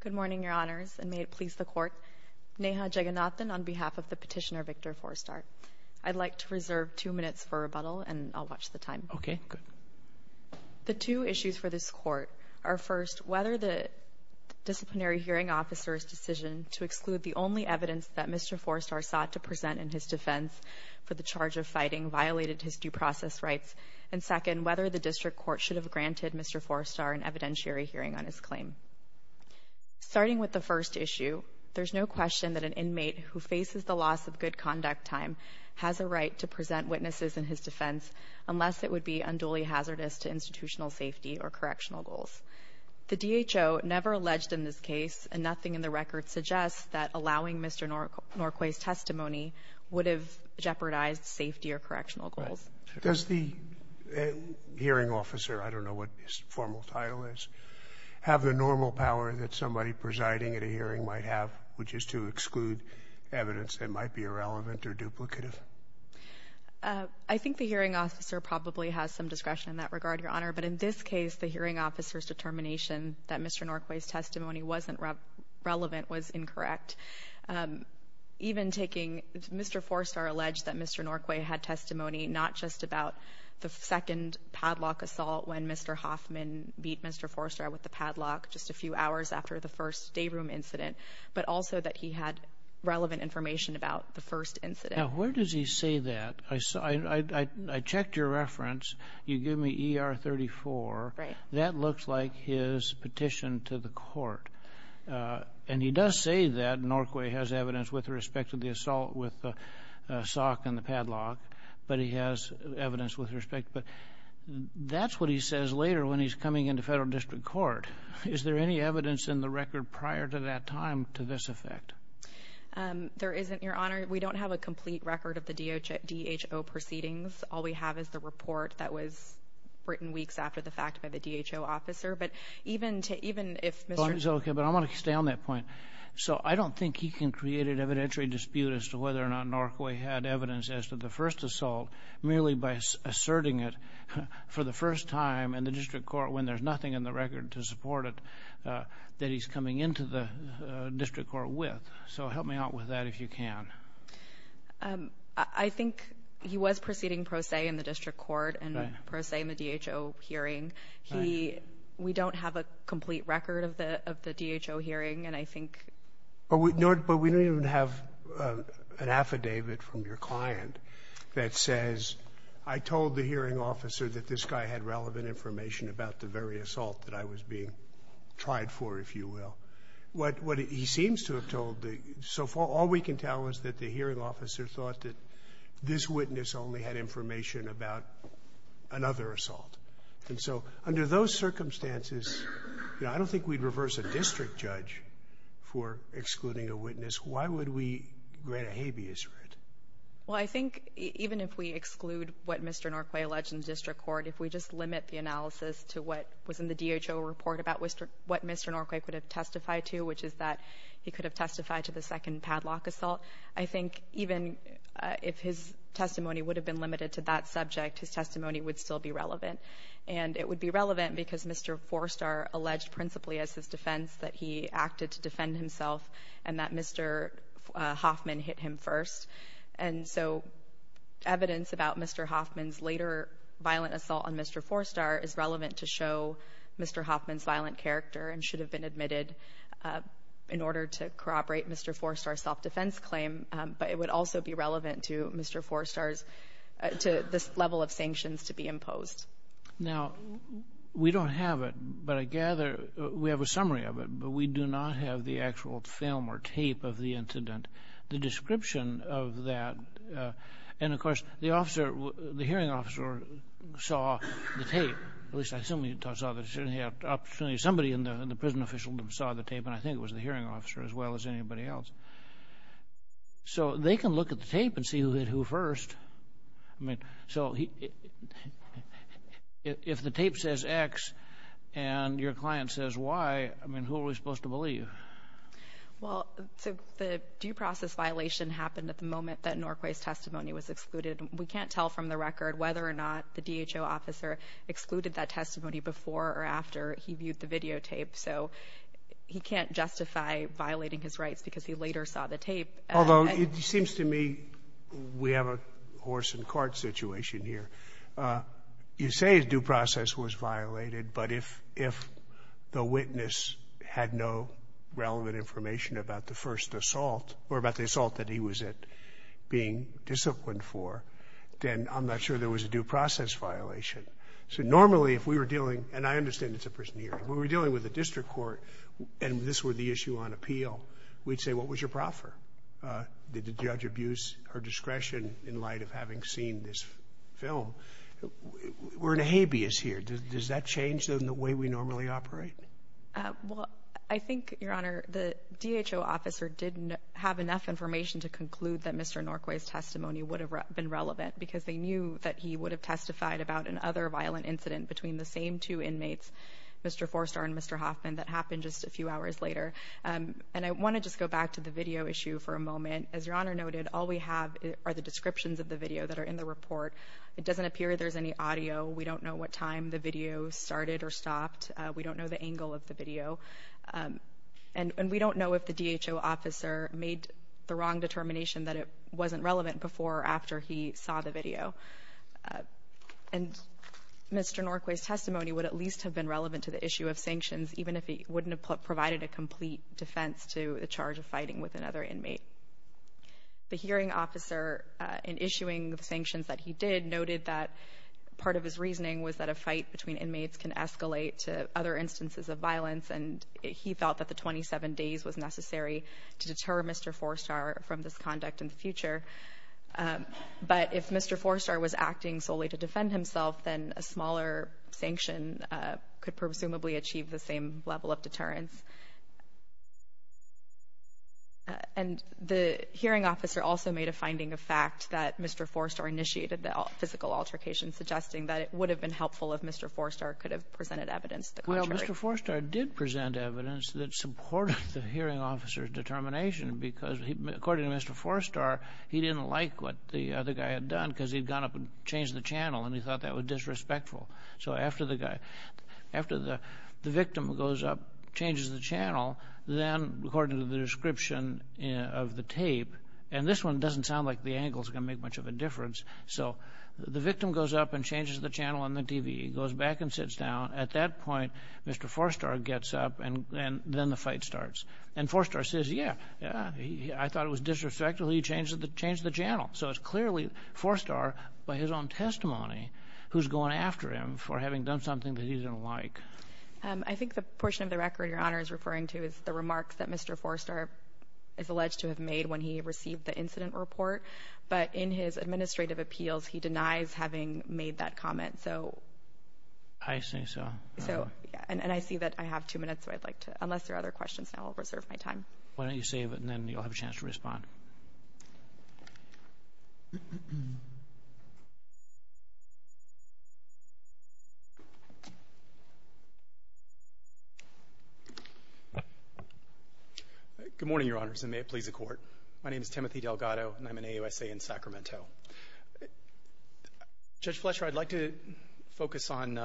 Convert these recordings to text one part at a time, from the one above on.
Good morning, Your Honors, and may it please the Court, Neha Jagannathan on behalf of the petitioner Victor Fourstar. I'd like to reserve two minutes for rebuttal, and I'll watch the time. Okay, good. The two issues for this Court are, first, whether the disciplinary hearing officer's decision to exclude the only evidence that Mr. Fourstar sought to present in his defense for the charge of fighting violated his due process rights, and, second, whether the district court should have granted Mr. Fourstar an evidentiary hearing on his claim. Starting with the first issue, there's no question that an inmate who faces the loss of good conduct time has a right to present witnesses in his defense unless it would be unduly hazardous to institutional safety or correctional goals. The DHO never alleged in this case, and nothing in the record suggests, that allowing Mr. Norquay's testimony would have jeopardized safety or correctional goals. Does the hearing officer, I don't know what his formal title is, have the normal power that somebody presiding at a hearing might have, which is to exclude evidence that might be irrelevant or duplicative? I think the hearing officer probably has some discretion in that regard, Your Honor. But in this case, the hearing officer's determination that Mr. Norquay's testimony wasn't relevant was incorrect. Even taking Mr. Fourstar alleged that Mr. Norquay had testimony not just about the second padlock assault when Mr. Hoffman beat Mr. Fourstar with the padlock just a few hours after the first day room incident, but also that he had relevant information about the first incident. Now, where does he say that? I checked your reference. You give me ER 34. That looks like his petition to the court. And he does say that Norquay has evidence with respect to the assault with the sock and the padlock, but he has evidence with respect. That's what he says later when he's coming into federal district court. Is there any evidence in the record prior to that time to this effect? There isn't, Your Honor. We don't have a complete record of the DHO proceedings. All we have is the report that was written weeks after the fact by the DHO officer. But even if Mr. Okay, but I want to stay on that point. So I don't think he can create an evidentiary dispute as to whether or not Norquay had evidence as to the first assault merely by asserting it for the first time in the district court when there's nothing in the record to support it that he's coming into the district court with. So help me out with that if you can. I think he was proceeding pro se in the district court and pro se in the DHO hearing. He we don't have a complete record of the DHO hearing. And I think But we don't even have an affidavit from your client that says, I told the hearing officer that this guy had relevant information about the very assault that I was being tried for, if you will. What he seems to have told the so far, all we can tell is that the hearing officer thought that this witness only had information about another assault. And so under those circumstances, you know, I don't think we'd reverse a district judge for excluding a witness. Why would we grant a habeas writ? Well, I think even if we exclude what Mr. Norquay alleged in the district court, if we just limit the analysis to what was in the DHO report about what Mr. Norquay could have testified to, which is that he could have testified to the second padlock assault, I think even if his testimony would have been limited to that subject, his testimony would still be relevant. And it would be relevant because Mr. Forstar alleged principally as his defense that he acted to defend himself and that Mr. Hoffman hit him first. And so evidence about Mr. Hoffman's later violent assault on Mr. Forstar is relevant to show Mr. Hoffman's violent character and should have been admitted in order to corroborate Mr. Forstar's self-defense claim. But it would also be relevant to Mr. Forstar's, to this level of sanctions to be imposed. Now, we don't have it, but I gather we have a summary of it, but we do not have the actual film or tape of the incident, the description of that. And, of course, the officer, the hearing officer saw the tape, at least I assume he saw the tape. Somebody in the prison official saw the tape, and I think it was the hearing officer as well as anybody else. So they can look at the tape and see who hit who first. I mean, so if the tape says X and your client says Y, I mean, who are we supposed to believe? Well, so the due process violation happened at the moment that Norquay's testimony was excluded. We can't tell from the record whether or not the DHO officer excluded that testimony before or after he viewed the videotape. So he can't justify violating his rights because he later saw the tape. Although it seems to me we have a horse and cart situation here. You say a due process was violated, but if the witness had no relevant information about the first assault or about the assault that he was at being disciplined for, then I'm not sure there was a due process violation. So normally if we were dealing, and I understand it's a prison hearing, if we were dealing with a district court and this were the issue on appeal, we'd say what was your proffer? Did the judge abuse her discretion in light of having seen this film? We're in a habeas here. Does that change the way we normally operate? Well, I think, Your Honor, the DHO officer didn't have enough information to conclude that Mr. Norquay's testimony would have been relevant because they knew that he would have testified about another violent incident between the same two inmates, Mr. Forster and Mr. Hoffman, that happened just a few hours later. And I want to just go back to the video issue for a moment. As Your Honor noted, all we have are the descriptions of the video that are in the report. It doesn't appear there's any audio. We don't know what time the video started or stopped. We don't know the angle of the video. And we don't know if the DHO officer made the wrong determination that it wasn't relevant before or after he saw the video. And Mr. Norquay's testimony would at least have been relevant to the issue of sanctions, even if it wouldn't have provided a complete defense to the charge of fighting with another inmate. The hearing officer, in issuing the sanctions that he did, noted that part of his reasoning was that a fight between inmates can escalate to other instances of violence, and he felt that the 27 days was necessary to deter Mr. Forster from this conduct in the future. But if Mr. Forster was acting solely to defend himself, then a smaller sanction could presumably achieve the same level of deterrence. And the hearing officer also made a finding of fact that Mr. Forster initiated the physical altercation, suggesting that it would have been helpful if Mr. Forster could have presented evidence the contrary. Mr. Forster did present evidence that supported the hearing officer's determination, because according to Mr. Forster, he didn't like what the other guy had done, because he'd gone up and changed the channel, and he thought that was disrespectful. So after the guy, after the victim goes up, changes the channel, then according to the description of the tape, and this one doesn't sound like the angle's going to make much of a difference. So the victim goes up and changes the channel on the TV, goes back and sits down. At that point, Mr. Forster gets up, and then the fight starts. And Forster says, yeah, yeah, I thought it was disrespectful. He changed the channel. So it's clearly Forster, by his own testimony, who's going after him for having done something that he didn't like. I think the portion of the record Your Honor is referring to is the remarks that Mr. Forster is alleged to have made when he received the incident report. But in his administrative appeals, he denies having made that comment. I see. And I see that I have two minutes. Unless there are other questions now, I'll reserve my time. Why don't you save it, and then you'll have a chance to respond. Good morning, Your Honors, and may it please the Court. My name is Timothy Delgado, and I'm an AUSA in Sacramento. Judge Fletcher, I'd like to focus on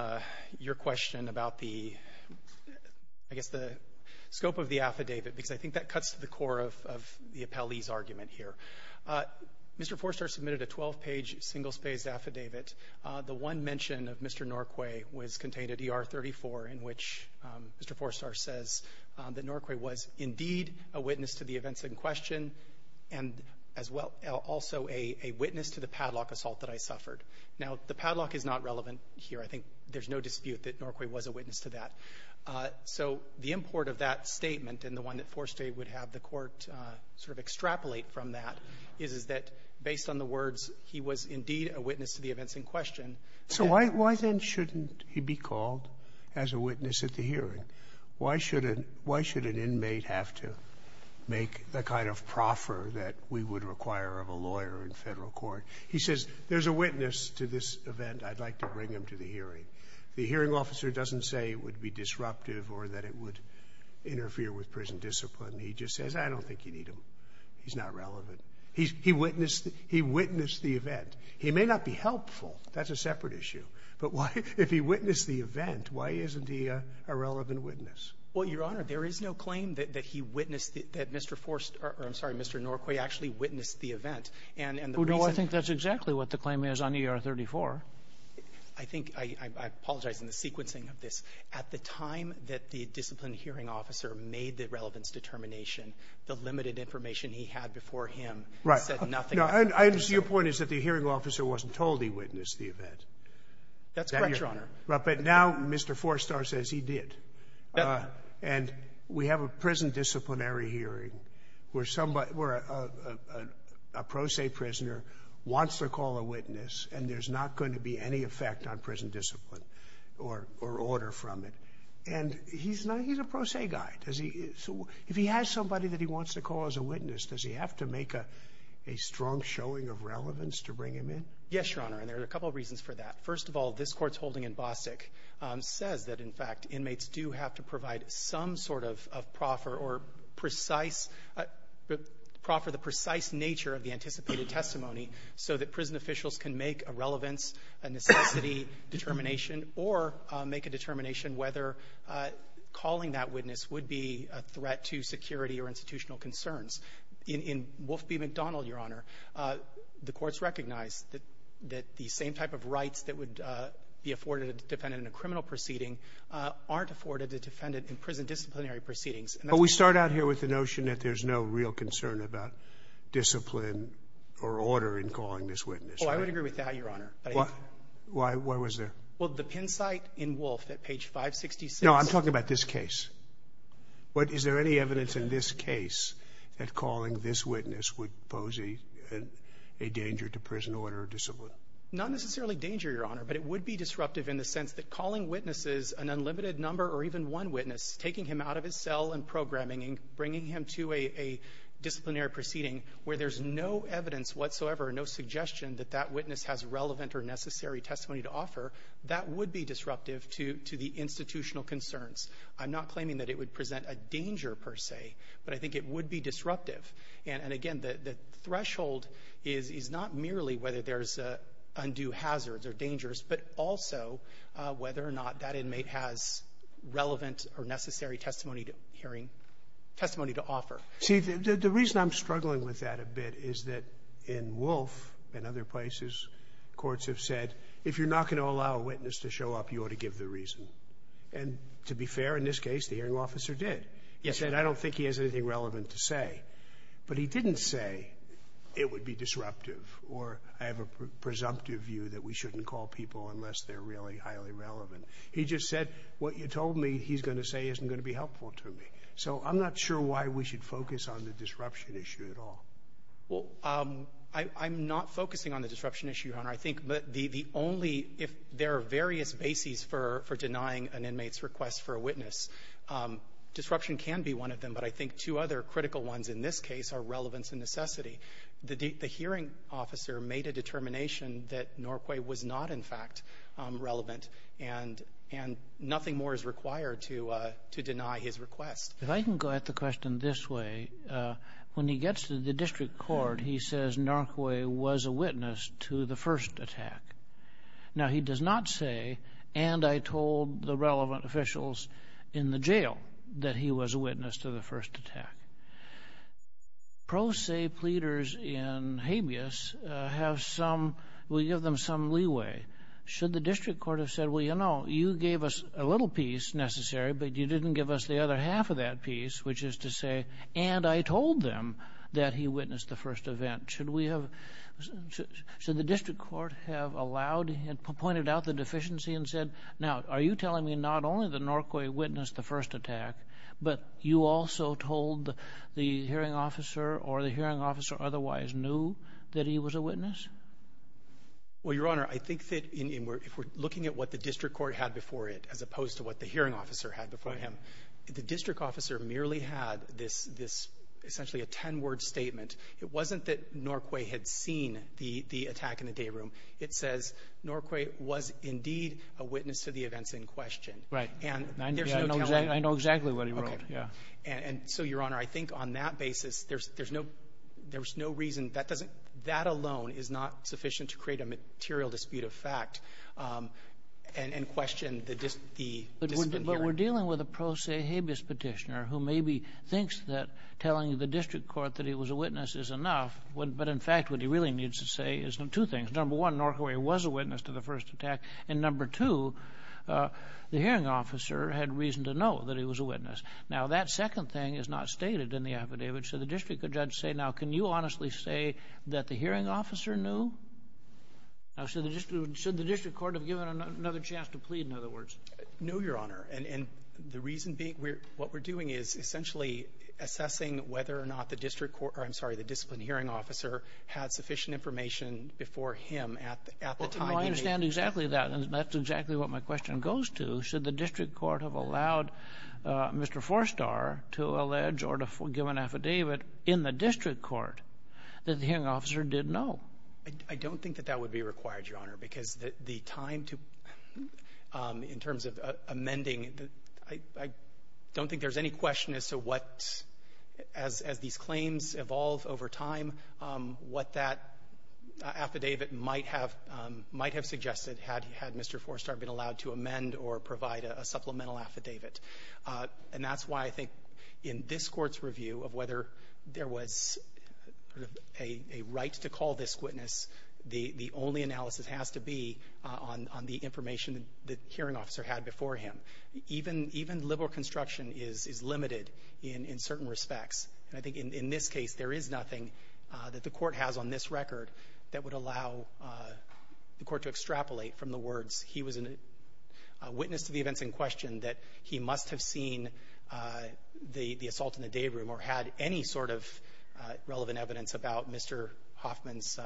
your question about the, I guess, the scope of the affidavit, because I think that cuts to the core of the appellee's argument here. Mr. Forster submitted a 12-page, single-spaced affidavit. The one mention of Mr. Norquay was contained at ER 34, in which Mr. Forster says that Norquay was indeed a witness to the events in question and as well also a witness to the padlock assault that I suffered. Now, the padlock is not relevant here. I think there's no dispute that Norquay was a witness to that. So the import of that statement and the one that Forster would have the Court sort of extrapolate from that is, is that based on the words, he was indeed a witness to the events in question. So why then shouldn't he be called as a witness at the hearing? Why should an inmate have to make the kind of proffer that we would require of a lawyer in Federal court? He says, there's a witness to this event. I'd like to bring him to the hearing. The hearing officer doesn't say it would be disruptive or that it would interfere with prison discipline. He just says, I don't think you need him. He's not relevant. He witnessed the event. He may not be helpful. That's a separate issue. But why? If he witnessed the event, why isn't he a relevant witness? Well, Your Honor, there is no claim that he witnessed that Mr. Forster or, I'm sorry, Mr. Norquay actually witnessed the event. And the reason ---- Well, no, I think that's exactly what the claim is on ER-34. I think ---- I apologize in the sequencing of this. At the time that the disciplined hearing officer made the relevance determination, the limited information he had before him ---- ----said nothing. Your point is that the hearing officer wasn't told he witnessed the event. That's correct, Your Honor. But now Mr. Forster says he did. And we have a prison disciplinary hearing where a pro se prisoner wants to call a witness and there's not going to be any effect on prison discipline or order from it. And he's a pro se guy. If he has somebody that he wants to call as a witness, does he have to make a strong showing of relevance to bring him in? Yes, Your Honor. And there are a couple of reasons for that. First of all, this Court's holding in Bostic says that, in fact, inmates do have to provide some sort of proffer or precise ---- proffer the precise nature of the anticipated testimony so that prison officials can make a relevance, a necessity determination, or make a determination whether calling that witness would be a threat to security or institutional concerns. In Wolf v. McDonald, Your Honor, the Court's recognized that the same type of rights that would be afforded a defendant in a criminal proceeding aren't afforded a defendant in prison disciplinary proceedings. But we start out here with the notion that there's no real concern about discipline or order in calling this witness. Oh, I would agree with that, Your Honor. Why? Why was there? Well, the pin site in Wolf at page 566 ---- No. I'm talking about this case. But is there any evidence in this case that calling this witness would pose a danger to prison order or discipline? Not necessarily danger, Your Honor, but it would be disruptive in the sense that calling witnesses, an unlimited number or even one witness, taking him out of his cell and programming him, bringing him to a disciplinary proceeding where there's no evidence whatsoever, no suggestion that that witness has relevant or necessary testimony to offer, that would be disruptive to the institutional concerns. I'm not claiming that it would present a danger, per se, but I think it would be disruptive. And again, the threshold is not merely whether there's undue hazards or dangers, but also whether or not that inmate has relevant or necessary testimony to hearing ---- testimony to offer. See, the reason I'm struggling with that a bit is that in Wolf and other places, courts have said, if you're not going to allow a witness to show up, you ought to give the reason. And to be fair, in this case, the hearing officer did. He said, I don't think he has anything relevant to say. But he didn't say it would be disruptive or I have a presumptive view that we shouldn't call people unless they're really highly relevant. He just said, what you told me he's going to say isn't going to be helpful to me. So I'm not sure why we should focus on the disruption issue at all. Well, I'm not focusing on the disruption issue, Your Honor. I think the only ---- if there are various bases for denying an inmate's request for a witness, disruption can be one of them. But I think two other critical ones in this case are relevance and necessity. The hearing officer made a determination that Norquay was not, in fact, relevant, and nothing more is required to deny his request. If I can go at the question this way. When he gets to the district court, he says Norquay was a witness to the first attack. Now, he does not say, and I told the relevant officials in the jail that he was a witness to the first attack. Pro se pleaders in habeas have some ---- will give them some leeway. Should the district court have said, well, you know, you gave us a little piece necessary, but you didn't give us the other half of that piece, which is to say, and I told them that he witnessed the first event. Should we have ---- should the district court have allowed, pointed out the deficiency and said, now, are you telling me not only that Norquay witnessed the first attack, but you also told the hearing officer or the hearing officer otherwise knew that he was a witness? Well, Your Honor, I think that if we're looking at what the district court had before it before him, the district officer merely had this essentially a ten-word statement. It wasn't that Norquay had seen the attack in the day room. It says Norquay was indeed a witness to the events in question. Right. And there's no telling. I know exactly what he wrote. Okay. Yeah. And so, Your Honor, I think on that basis, there's no reason. That doesn't ---- that alone is not sufficient to create a material dispute of fact and question the hearing. But we're dealing with a pro se habeas petitioner who maybe thinks that telling the district court that he was a witness is enough. But, in fact, what he really needs to say is two things. Number one, Norquay was a witness to the first attack. And number two, the hearing officer had reason to know that he was a witness. Now, that second thing is not stated in the affidavit. So the district judge said, now, can you honestly say that the hearing officer knew? Now, should the district court have given him another chance to plead, in other words? No, Your Honor. And the reason being, what we're doing is essentially assessing whether or not the district court or, I'm sorry, the disciplined hearing officer had sufficient information before him at the time. Well, I understand exactly that. And that's exactly what my question goes to. Should the district court have allowed Mr. Forstar to allege or to give an affidavit in the district court that the hearing officer did know? I don't think that that would be required, Your Honor, because the time to, in terms of amending, I don't think there's any question as to what, as these claims evolve over time, what that affidavit might have suggested had Mr. Forstar been allowed to amend or provide a supplemental affidavit. And that's why I think in this Court's review of whether there was a right to call this witness, the only analysis has to be on the information the hearing officer had before him. Even liberal construction is limited in certain respects. And I think in this case, there is nothing that the Court has on this record that would allow the Court to extrapolate from the words, he was a witness to the events in question, that he must have seen the assault in the dayroom or had any sort of relevant evidence about Mr. Hoffman's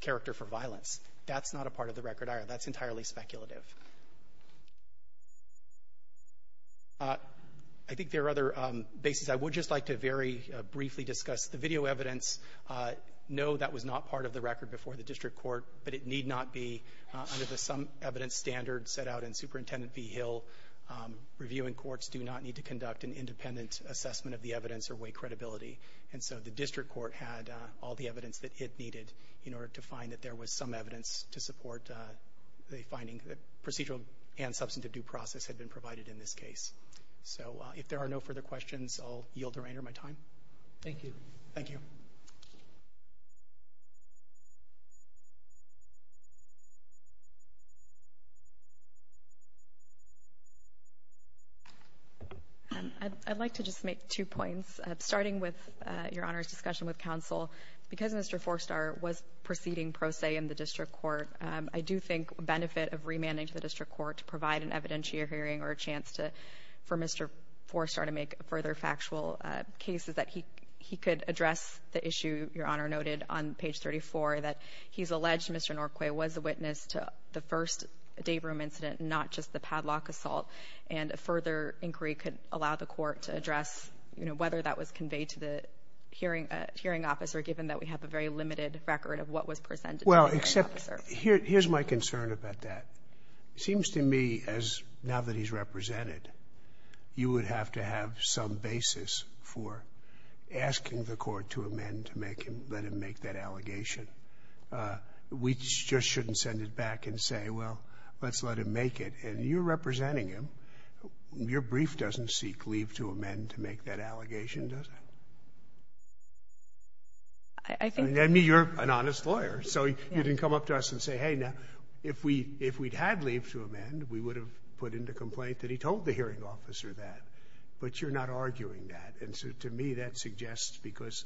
character for violence. That's not a part of the record, either. That's entirely speculative. I think there are other bases. I would just like to very briefly discuss the video evidence. No, that was not part of the record before the district court, but it need not be under the some evidence standard set out in Superintendent v. Hill. Reviewing courts do not need to conduct an independent assessment of the evidence or weigh credibility. And so the district court had all the evidence that it needed in order to find that there was some evidence to support the finding that procedural and substantive due process had been provided in this case. So if there are no further questions, I'll yield the remainder of my time. Thank you. Thank you. I'd like to just make two points, starting with Your Honor's discussion with counsel. Because Mr. Forstar was proceeding pro se in the district court, I do think benefit of remanding to the district court to provide an evidentiary hearing or a chance for Mr. Forstar to make further factual cases that he could address the issue Your And I think it's important to note on page 34 that he's alleged Mr. Norquay was a witness to the first day room incident, not just the padlock assault. And a further inquiry could allow the court to address, you know, whether that was conveyed to the hearing officer, given that we have a very limited record of what was presented to the hearing officer. Well, except here's my concern about that. It seems to me as now that he's represented, you would have to have some basis for asking the court to amend to make him let him make that allegation. We just shouldn't send it back and say, well, let's let him make it. And you're representing him. Your brief doesn't seek leave to amend to make that allegation, does it? I think the ---- I mean, you're an honest lawyer. So you didn't come up to us and say, hey, now, if we if we'd had leave to amend, we would have put in the complaint that he told the hearing officer that. But you're not arguing that. And so to me, that suggests because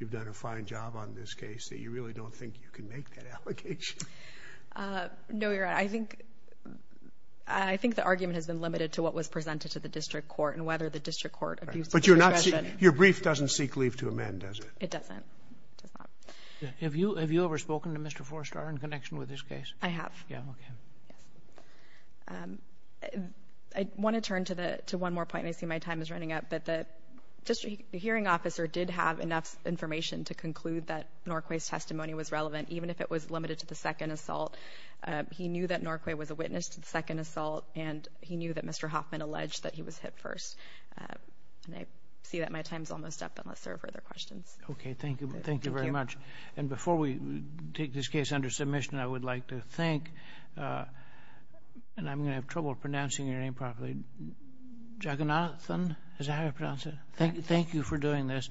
you've done a fine job on this case that you really don't think you can make that allegation. No, you're right. I think I think the argument has been limited to what was presented to the district court and whether the district court ---- But you're not your brief doesn't seek leave to amend, does it? It doesn't. It does not. Have you have you ever spoken to Mr. Forrester in connection with this case? I have. Yeah. OK. Yes. I want to turn to the to one more point. I see my time is running out. But the district hearing officer did have enough information to conclude that Norquay's testimony was relevant, even if it was limited to the second assault. He knew that Norquay was a witness to the second assault, and he knew that Mr. Hoffman alleged that he was hit first. And I see that my time is almost up, unless there are further questions. OK. Thank you. Thank you very much. And before we take this case under submission, I would like to thank and I'm going to have trouble pronouncing your name properly. Jaganathan. Is that how you pronounce it? Thank you. Thank you for doing this.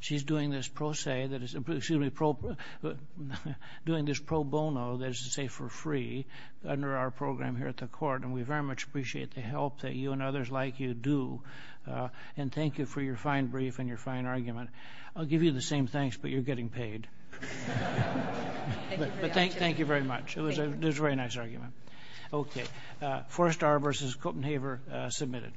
She's doing this pro se that is doing this pro bono that is to say for free under our program here at the court. And we very much appreciate the help that you and others like you do. And thank you for your fine brief and your fine argument. I'll give you the same thanks, but you're getting paid. But thank you very much. It was a very nice argument. OK. Forrest Arbor versus Colton Haver, submitted.